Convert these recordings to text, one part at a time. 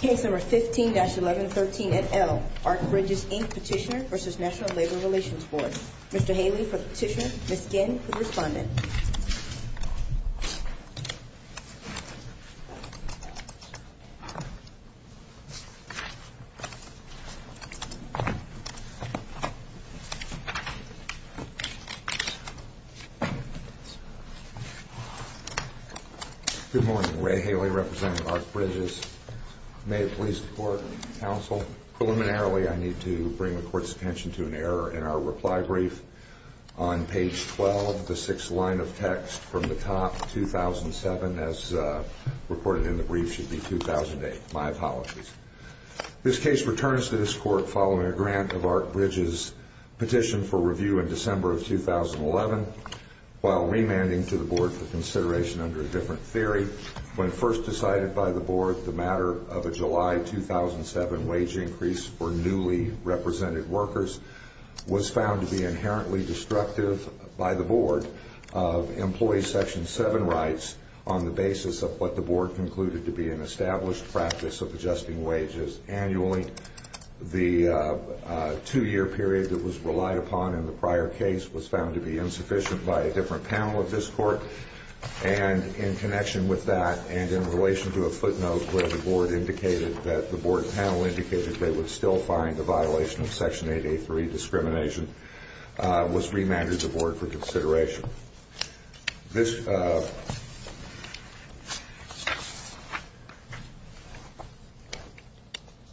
Case No. 15-1113NL, ARC Bridges, Inc. Petitioner v. National Labor Relations Board Mr. Haley for the petition, Ms. Ginn for the respondent Good morning. Ray Haley representing ARC Bridges. May it please the Court, Counsel, preliminarily I need to bring the Court's attention to an error in our reply brief. On page 12, the sixth line of text from the top, 2007, as reported in the brief should be 2008. My apologies. This case returns to this Court following a grant of ARC Bridges' petition for review in December of 2011, while remanding to the Board for consideration under a different theory. When first decided by the Board, the matter of a July 2007 wage increase for newly represented workers was found to be inherently destructive by the Board of Employee Section 7 rights on the basis of what the Board concluded to be an established practice of adjusting was found to be insufficient by a different panel of this Court, and in connection with that and in relation to a footnote where the Board panel indicated they would still find a violation of Section 8A3 discrimination, was remanded to the Board for consideration. This,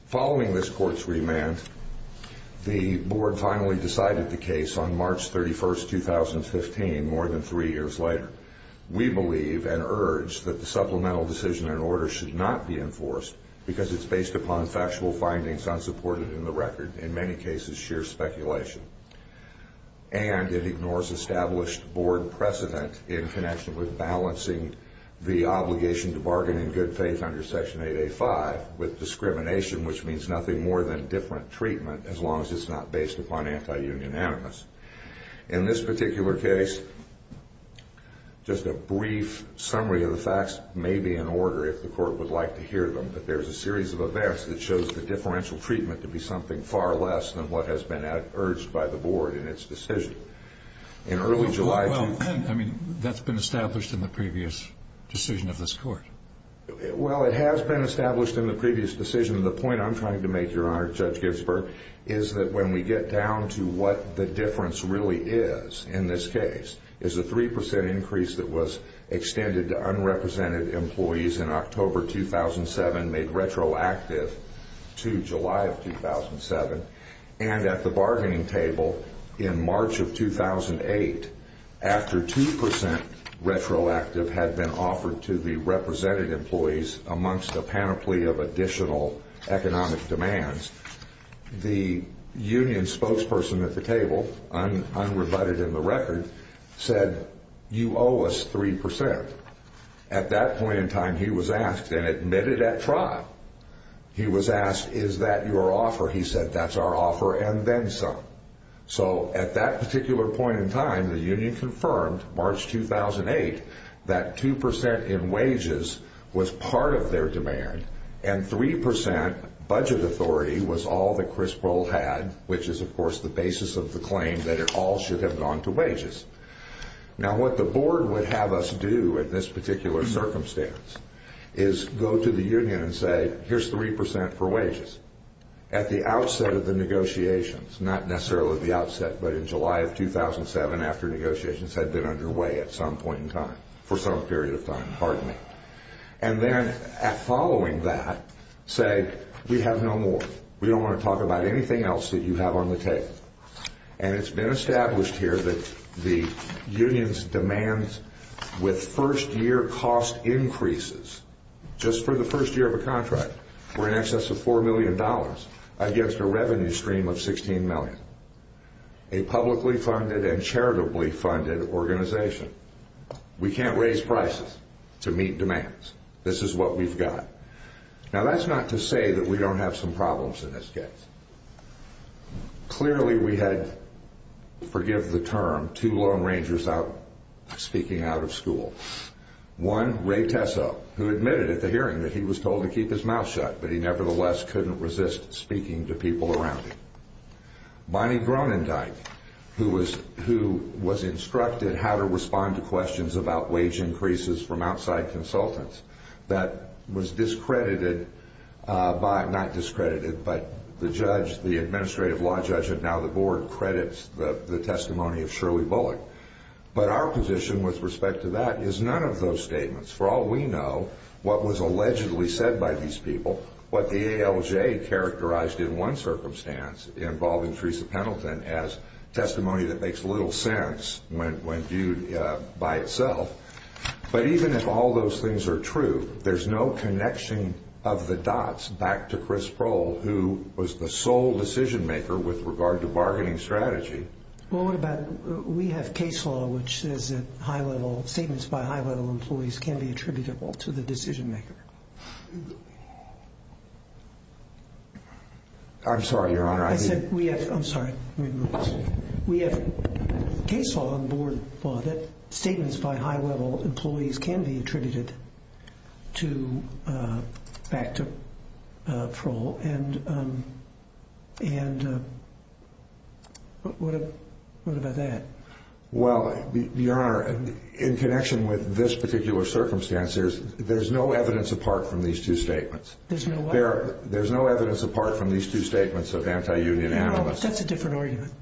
following this Court's remand, the Board finally decided the case on March 31st, 2015, more than three years later. We believe and urge that the supplemental decision and order should not be enforced because it's based upon factual findings unsupported in the record, in many cases sheer speculation, and it ignores established Board precedent in connection with balancing the obligation to bargain in good faith under Section 8A5 with discrimination, which means nothing more than different treatment as long as it's not based upon anti-union animus. In this particular case, just a brief summary of the facts may be in order if the Court would like to hear them, but there's a series of events that shows the differential treatment to be something far less than what has been urged by the Board in its decision. That's been established in the previous decision of this Court. Well, it has been established in the previous decision. The point I'm trying to make, Your Honor, Judge Ginsburg, is that when we get down to what the difference really is in this case is a 3% increase that was extended to unrepresented employees in October 2007, made retroactive to July of 2007, and at the bargaining table in March of 2008, after 2% retroactive had been offered to the represented employees amongst a panoply of additional economic demands, the union spokesperson at the table, unrebutted in the record, said, you owe us 3%. At that point, he was asked, is that your offer? He said, that's our offer and then some. So at that particular point in time, the union confirmed, March 2008, that 2% in wages was part of their demand and 3% budget authority was all that Crisprol had, which is, of course, the basis of the claim that it all should have gone to wages. Now what the Board would have us do in this particular circumstance is go to the union and say, here's 3% for wages. At the outset of the negotiations, not necessarily the outset, but in July of 2007 after negotiations had been underway at some point in time, for some period of time, pardon me. And then following that, say, we have no more. We don't want to talk about anything else that you have on the table. And it's been established here that the union's demands with first year cost increases, just for the first year of bargaining for a contract, were in excess of $4 million against a revenue stream of $16 million. A publicly funded and charitably funded organization. We can't raise prices to meet demands. This is what we've got. Now that's not to say that we don't have some problems in this case. Clearly we had, forgive the term, two Lone Rangers out speaking out of school. One, Ray couldn't keep his mouth shut, but he nevertheless couldn't resist speaking to people around him. Bonnie Groenendijk, who was instructed how to respond to questions about wage increases from outside consultants, that was discredited by, not discredited, but the judge, the Administrative Law Judge, and now the Board, credits the testimony of Shirley Bullock. But our position with respect to that is none of those statements. For all we know, what was allegedly said by these people, what the ALJ characterized in one circumstance involving Teresa Pendleton as testimony that makes little sense when viewed by itself. But even if all those things are true, there's no connection of the dots back to Chris Prohl, who was the sole decision maker with regard to bargaining strategy. Well, what about, we have case law which says that high level, statements by high level employees can be attributable to the decision maker. I'm sorry, Your Honor, I didn't... I said, we have, I'm sorry, we have case law, Board law, that statements by high level employees can be attributed to, back to Prohl, and what about that? Well, Your Honor, in connection with this particular circumstance, there's no evidence apart from these two statements. There's no what? There's no evidence apart from these two statements of anti-union analysts. Well, that's a different argument.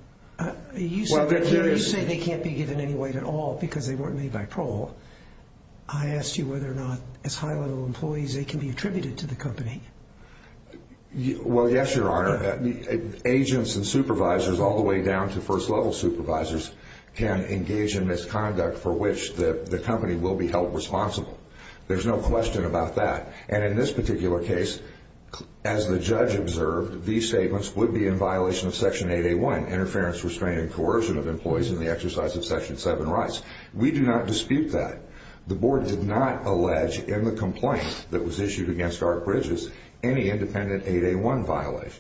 You say they can't be given any weight at all because they weren't made by Prohl. I asked you whether or not, as high level employees, they can be attributed to the company. Well, yes, Your Honor. Agents and supervisors all the way down to first level supervisors can engage in misconduct for which the company will be held responsible. There's no question about that. And in this particular case, as the judge observed, these statements would be in violation of Section 8A1, Interference, Restraint, and Coercion of Employees in the Exercise of Section 7 Rights. We do not dispute that. The Board did not allege in the complaint that was issued against Art Bridges any independent 8A1 violations.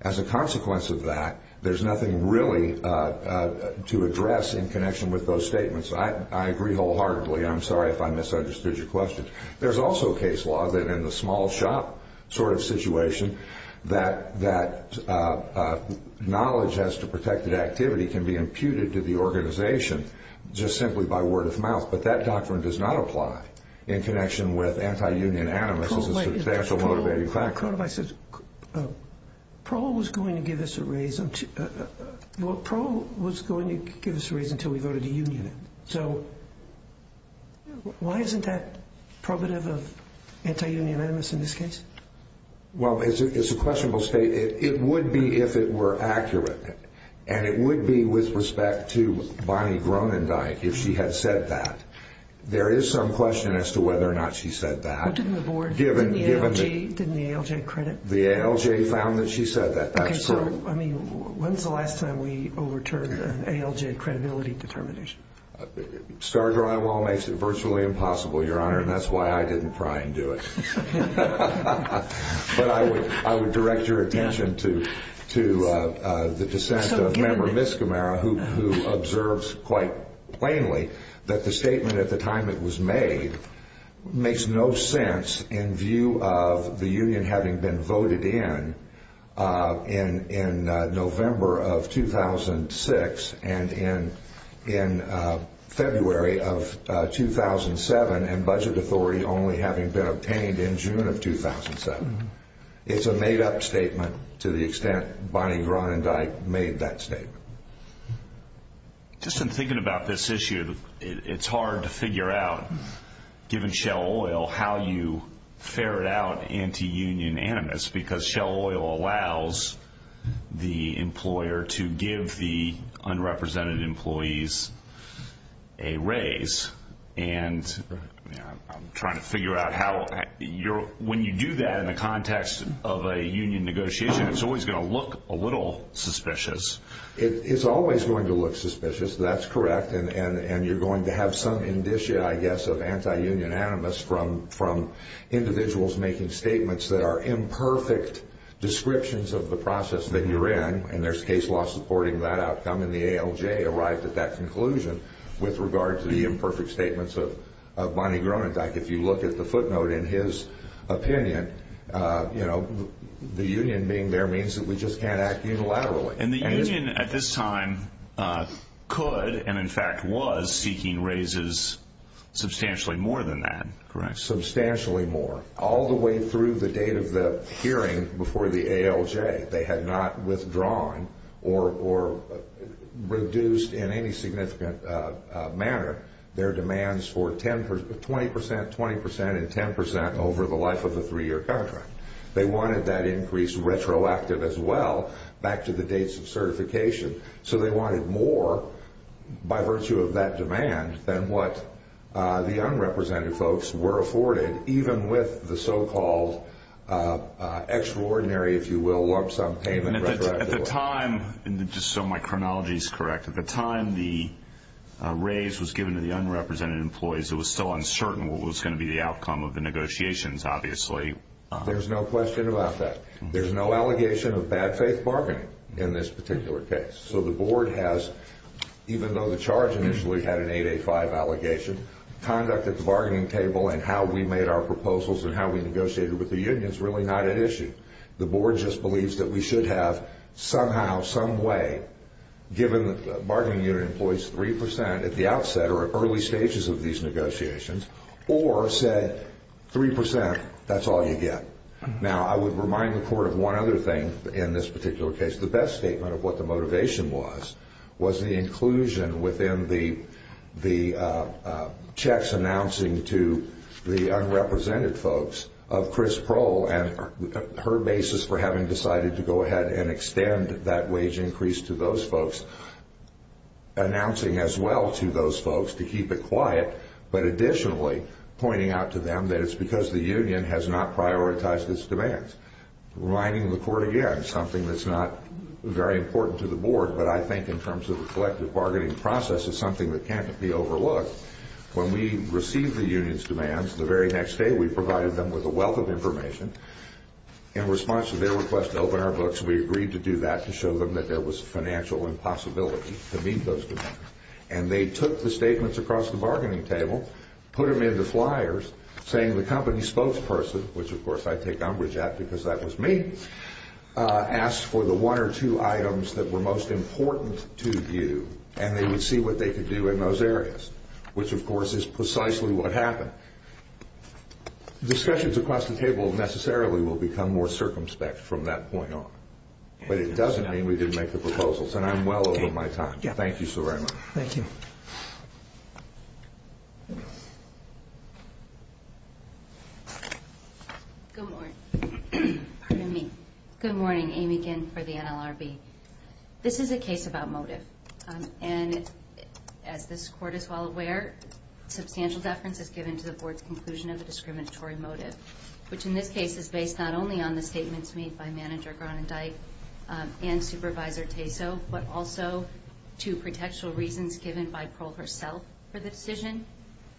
As a consequence of that, there's nothing really to address in connection with those statements. I agree wholeheartedly. I'm sorry if I misunderstood your question. There's also case law that in the small shop sort of situation that knowledge as to protected activity can be imputed to the organization just simply by word of mouth. But that doctrine does not apply in connection with anti-union animus as a substantial motivating factor. Court of Isaac, Proe was going to give us a raise until we voted a union. So why isn't that probative of anti-union animus in this case? Well, it's a questionable statement. It would be if it were accurate. And it would be with respect to Bonnie Groenendijk if she had said that. There is some question as to whether or not she said that. What did the Board, didn't the ALJ credit? The ALJ found that she said that. That's true. Okay, so I mean, when's the last time we overturned an ALJ credibility determination? Star drywall makes it virtually impossible, Your Honor, and that's why I didn't try and do it. But I would direct your attention to the dissent of Member Miskimara who observes quite plainly that the statement at the time it was made makes no sense in view of the union having been voted in in November of 2006 and in February of 2007 and budget authority only having been obtained in June of 2007. It's a made-up statement to the extent Bonnie Groenendijk made that statement. Just in thinking about this issue, it's hard to figure out, given Shell Oil, how you ferret out anti-union animus because Shell Oil allows the employer to give the unrepresented employees a raise, and I'm trying to figure out how. When you do that in the context of a union negotiation, it's always going to look a little suspicious. It's always going to look suspicious. That's correct. And you're going to have some indicia, I guess, of anti-union animus from individuals making statements that are imperfect descriptions of the process that you're in, and there's with regard to the imperfect statements of Bonnie Groenendijk. If you look at the footnote in his opinion, the union being there means that we just can't act unilaterally. And the union at this time could, and in fact was, seeking raises substantially more than that, correct? Substantially more, all the way through the date of the hearing before the ALJ. They had not withdrawn or reduced in any significant manner their demands for 20%, 20%, and 10% over the life of the three-year contract. They wanted that increase retroactive as well, back to the dates of certification. So they wanted more by virtue of that demand than what the unrepresented folks were afforded, even with the so-called extraordinary, if you will, lump sum payment. At the time, and just so my chronology is correct, at the time the raise was given to the unrepresented employees, it was still uncertain what was going to be the outcome of the negotiations, obviously. There's no question about that. There's no allegation of bad faith bargaining in this particular case. So the board has, even though the charge initially had an 885 allegation, conduct at the bargaining table and how we made our proposals and how we negotiated with the unions really not at issue. The board just believes that we should have somehow, some way, given that the bargaining unit employs 3% at the outset or at early stages of these negotiations, or said 3%, that's all you get. Now, I would remind the court of one other thing in this particular case. The best statement of what the motivation was, was the inclusion within the checks announcing to the unrepresented folks of Chris Prohl and her basis for having decided to go ahead and extend that wage increase to those folks, announcing as well to those folks to keep it quiet, but additionally pointing out to them that it's because the union has not prioritized its demands. Reminding the court again, something that's not very important to the board, but I think in terms of the collective bargaining process, it's something that can't be overlooked. When we received the union's demands, the very next day we provided them with a wealth of information. In response to their request to open our books, we agreed to do that to show them that there was financial impossibility to meet those demands. And they took the statements across the bargaining table, put them in the flyers, saying the company spokesperson, which of course I take umbrage at because that was me, asked for the one or two items that were most important to you, and they would see what they could do in those areas, which of course is precisely what happened. Discussions across the table necessarily will become more circumspect from that point on, but it doesn't mean we didn't make the proposals, and I'm well over my time. Thank you so very much. Thank you. Good morning. Pardon me. Good morning. Amy Ginn for the NLRB. This is a case about motive, and as this court is well aware, substantial deference is given to the board's conclusion of the discriminatory motive, which in this case is based not only on the statements made by Manager Gronendijk and Supervisor Taso, but also to protectual reasons given by Pearl herself for the decision,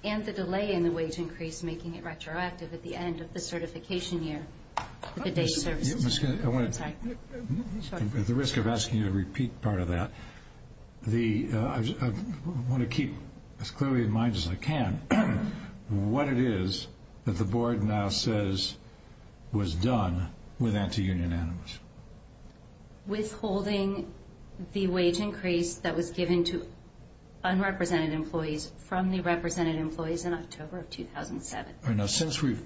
and the delay in the wage increase making it retroactive at the end of the certification year. At the risk of asking you to repeat part of that, I want to keep as clearly in mind as I can what it is that the board now says was done with anti-union animus. Withholding the wage increase that was given to unrepresented employees from the represented employees in October of 2007. Since we've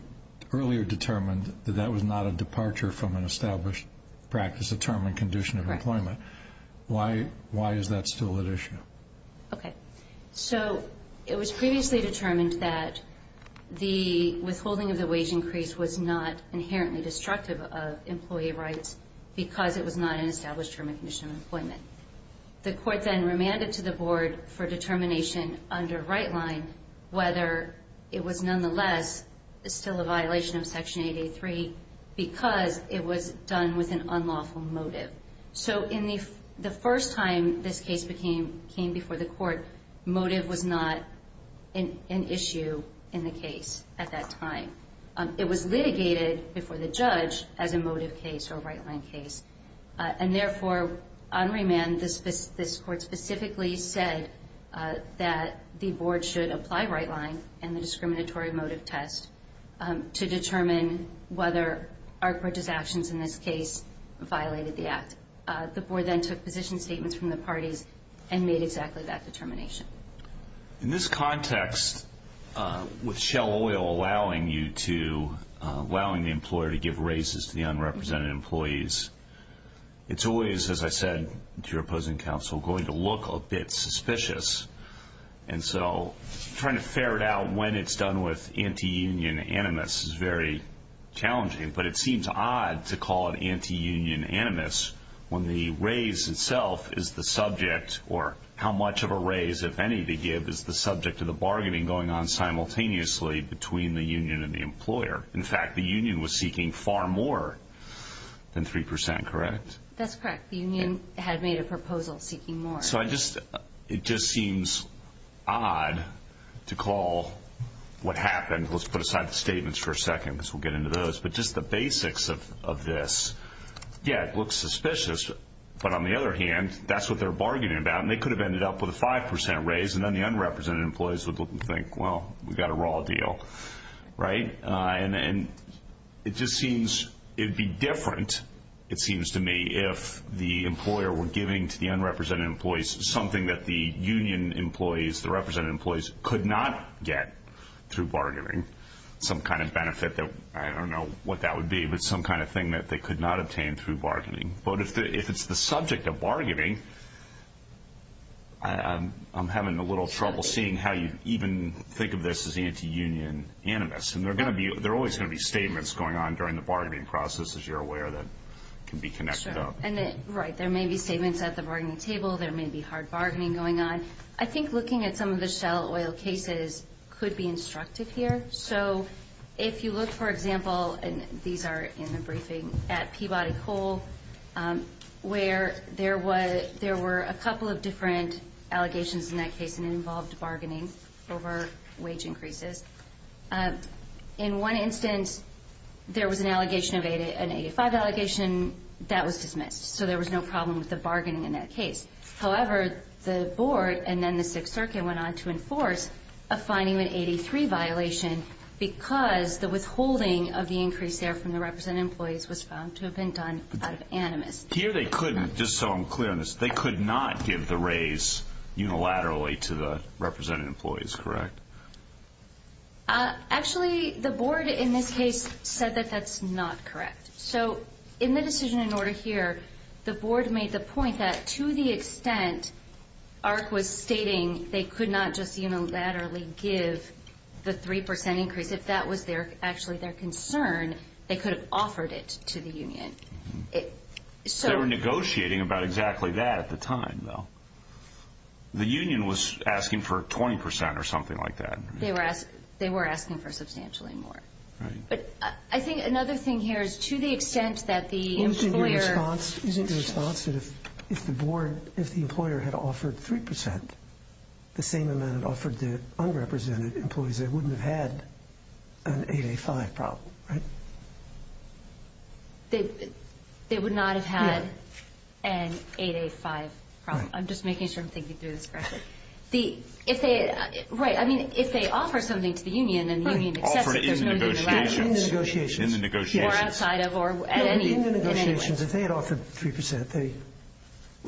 earlier determined that that was not a departure from an established practice of term and condition of employment, why is that still at issue? Okay. So it was previously determined that the withholding of the wage increase was not inherently destructive of employee rights because it was not an established term and condition of employment. The court then remanded to the board for determination under right line whether it was nonetheless still a violation of Section 883 because it was done with an unlawful motive. So the first time this case came before the court, motive was not an issue in the case at that time. It was litigated before the judge as a motive case or a right line case, and therefore on remand this court specifically said that the board should apply right line and the discriminatory motive test to determine whether our court's actions in this case violated the act. The board then took position statements from the parties and made exactly that determination. In this context, with Shell Oil allowing the employer to give raises to the unrepresented employees, it's always, as I said to your opposing counsel, going to look a bit suspicious. And so trying to ferret out when it's done with anti-union animus is very challenging, but it seems odd to call it anti-union animus when the raise itself is the subject or how much of a raise, if any, they give is the subject of the bargaining going on simultaneously between the union and the employer. In fact, the union was seeking far more than 3%, correct? That's correct. The union had made a proposal seeking more. So it just seems odd to call what happened. Let's put aside the statements for a second because we'll get into those. But just the basics of this, yeah, it looks suspicious, but on the other hand, that's what they're bargaining about, and they could have ended up with a 5% raise, and then the unrepresented employees would look and think, well, we've got a raw deal, right? And it just seems it would be different, it seems to me, if the employer were giving to the unrepresented employees something that the union employees, the represented employees, could not get through bargaining, some kind of benefit. I don't know what that would be, but some kind of thing that they could not obtain through bargaining. But if it's the subject of bargaining, I'm having a little trouble seeing how you even think of this as anti-union animus. And there are always going to be statements going on during the bargaining process, as you're aware, that can be connected up. Right. There may be statements at the bargaining table. There may be hard bargaining going on. I think looking at some of the shallow oil cases could be instructive here. So if you look, for example, and these are in the briefing, at Peabody Coal, where there were a couple of different allegations in that case, and it involved bargaining over wage increases. In one instance, there was an 85 allegation that was dismissed, so there was no problem with the bargaining in that case. However, the board and then the Sixth Circuit went on to enforce a fining of an 83 violation because the withholding of the increase there from the represented employees was found to have been done out of animus. Here they couldn't, just so I'm clear on this, they could not give the raise unilaterally to the represented employees, correct? Actually, the board in this case said that that's not correct. So in the decision in order here, the board made the point that to the extent ARC was stating they could not just unilaterally give the 3% increase, if that was actually their concern, they could have offered it to the union. They were negotiating about exactly that at the time, though. The union was asking for 20% or something like that. They were asking for substantially more. But I think another thing here is to the extent that the employer Isn't your response that if the employer had offered 3%, the same amount offered to unrepresented employees, they wouldn't have had an 8A5 problem, right? They would not have had an 8A5 problem. I'm just making sure I'm thinking through this correctly. Right. I mean, if they offer something to the union and the union accepts it, there's no new relationship. In the negotiations. Or outside of, or at any rate. In the negotiations, if they had offered 3%, there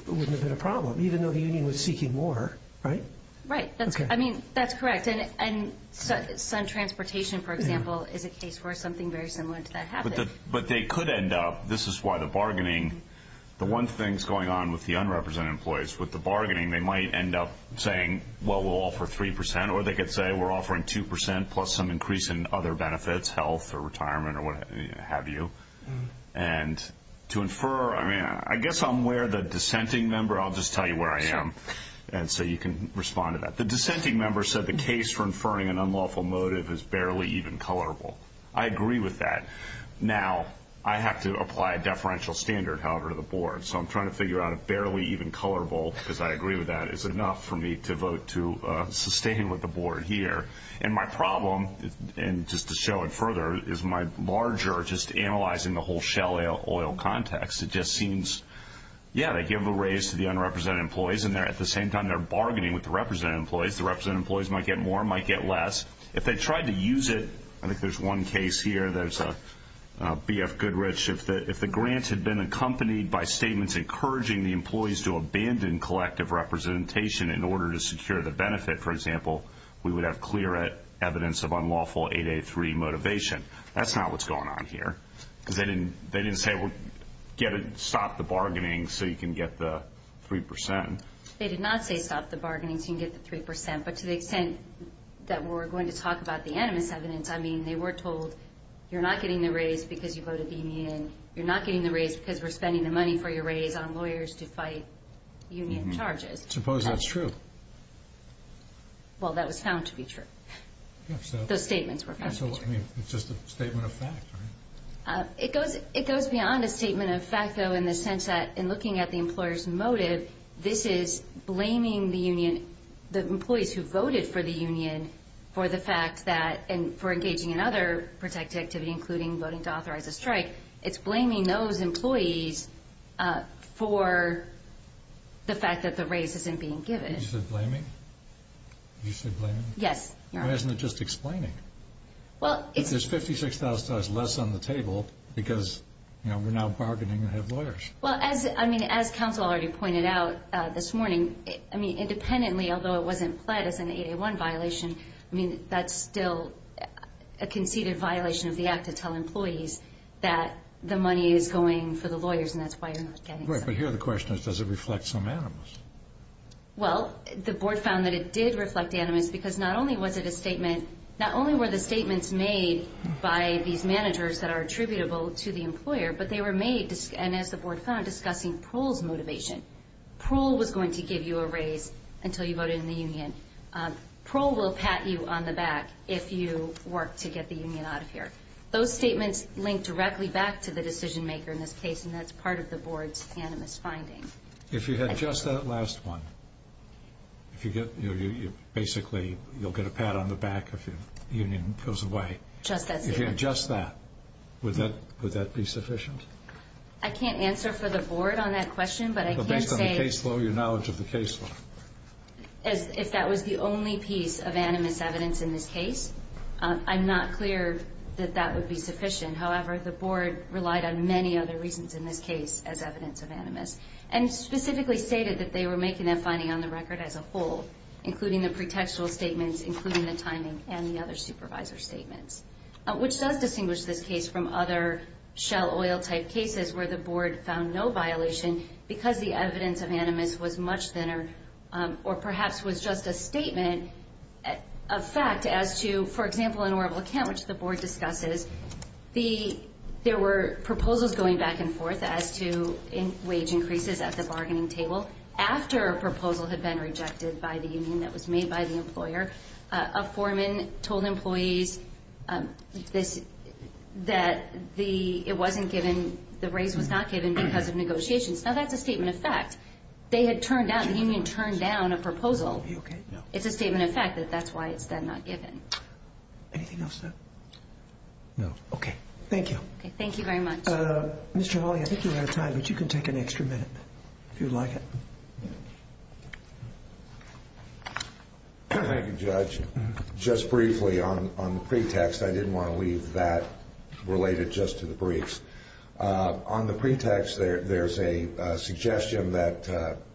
wouldn't have been a problem, even though the union was seeking more, right? Right. I mean, that's correct. And sun transportation, for example, is a case where something very similar to that happened. But they could end up, this is why the bargaining, the one thing that's going on with the unrepresented employees, is with the bargaining, they might end up saying, well, we'll offer 3%. Or they could say, we're offering 2% plus some increase in other benefits, health or retirement or what have you. And to infer, I mean, I guess I'm aware the dissenting member, I'll just tell you where I am. And so you can respond to that. The dissenting member said the case for inferring an unlawful motive is barely even colorable. I agree with that. Now, I have to apply a deferential standard, however, to the board. So I'm trying to figure out if barely even colorable, because I agree with that, is enough for me to vote to sustain with the board here. And my problem, and just to show it further, is my larger just analyzing the whole Shell Oil context. It just seems, yeah, they give a raise to the unrepresented employees, and at the same time they're bargaining with the represented employees. The represented employees might get more, might get less. If they tried to use it, I think there's one case here. There's a BF Goodrich. If the grant had been accompanied by statements encouraging the employees to abandon collective representation in order to secure the benefit, for example, we would have clear evidence of unlawful 8A3 motivation. That's not what's going on here. They didn't say stop the bargaining so you can get the 3%. They did not say stop the bargaining so you can get the 3%. But to the extent that we're going to talk about the animus evidence, I mean, they were told you're not getting the raise because you voted the union, you're not getting the raise because we're spending the money for your raise on lawyers to fight union charges. I suppose that's true. Well, that was found to be true. Those statements were found to be true. I mean, it's just a statement of fact, right? It goes beyond a statement of fact, though, in the sense that in looking at the employer's motive, this is blaming the union, the employees who voted for the union, for the fact that for engaging in other protective activity, including voting to authorize a strike, it's blaming those employees for the fact that the raise isn't being given. You said blaming? You said blaming? Yes. Well, isn't it just explaining? There's $56,000 less on the table because we're now bargaining to have lawyers. Well, as counsel already pointed out this morning, I mean, independently, although it wasn't pled as an 8A1 violation, I mean, that's still a conceded violation of the act to tell employees that the money is going for the lawyers, and that's why you're not getting some. Right, but here the question is, does it reflect some animus? Well, the board found that it did reflect animus because not only was it a statement, not only were the statements made by these managers that are attributable to the employer, but they were made, and as the board found, discussing Proulx's motivation. Proulx was going to give you a raise until you voted in the union. Proulx will pat you on the back if you work to get the union out of here. Those statements link directly back to the decision maker in this case, and that's part of the board's animus finding. If you had just that last one, basically you'll get a pat on the back if the union goes away. Just that statement. If you had just that, would that be sufficient? I can't answer for the board on that question, but I can say as if that was the only piece of animus evidence in this case. I'm not clear that that would be sufficient. However, the board relied on many other reasons in this case as evidence of animus, and specifically stated that they were making that finding on the record as a whole, including the pretextual statements, including the timing and the other supervisor statements, which does distinguish this case from other shell oil-type cases where the board found no violation because the evidence of animus was much thinner or perhaps was just a statement of fact as to, for example, in Oroville Camp, which the board discusses, there were proposals going back and forth as to wage increases at the bargaining table. After a proposal had been rejected by the union that was made by the employer, a foreman told employees that it wasn't given, the raise was not given because of negotiations. Now, that's a statement of fact. They had turned down, the union turned down a proposal. It's a statement of fact that that's why it's then not given. Anything else? No. Okay. Thank you. Thank you very much. Mr. Hawley, I think you're out of time, but you can take an extra minute if you'd like. Okay. Thank you, Judge. Just briefly on the pretext, I didn't want to leave that related just to the briefs. On the pretext, there's a suggestion that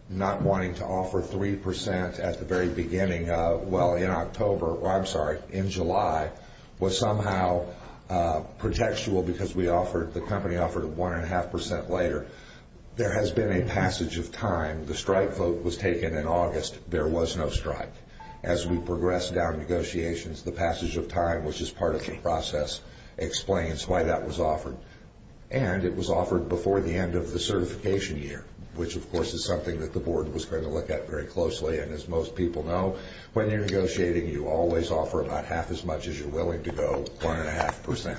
not wanting to offer 3% at the very beginning of, well, in October, or I'm sorry, in July, was somehow pretextual because we offered, the company offered 1.5% later. There has been a passage of time. The strike vote was taken in August. There was no strike. As we progress down negotiations, the passage of time, which is part of the process, explains why that was offered. And it was offered before the end of the certification year, which, of course, is something that the board was going to look at very closely. And as most people know, when you're negotiating, you always offer about half as much as you're willing to go, 1.5%.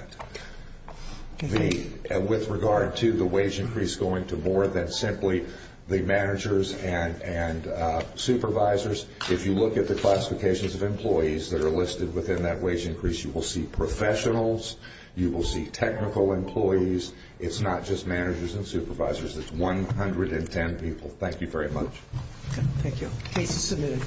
With regard to the wage increase going to board, that's simply the managers and supervisors. If you look at the classifications of employees that are listed within that wage increase, you will see professionals, you will see technical employees. It's not just managers and supervisors. It's 110 people. Thank you very much. Thank you. Case is submitted.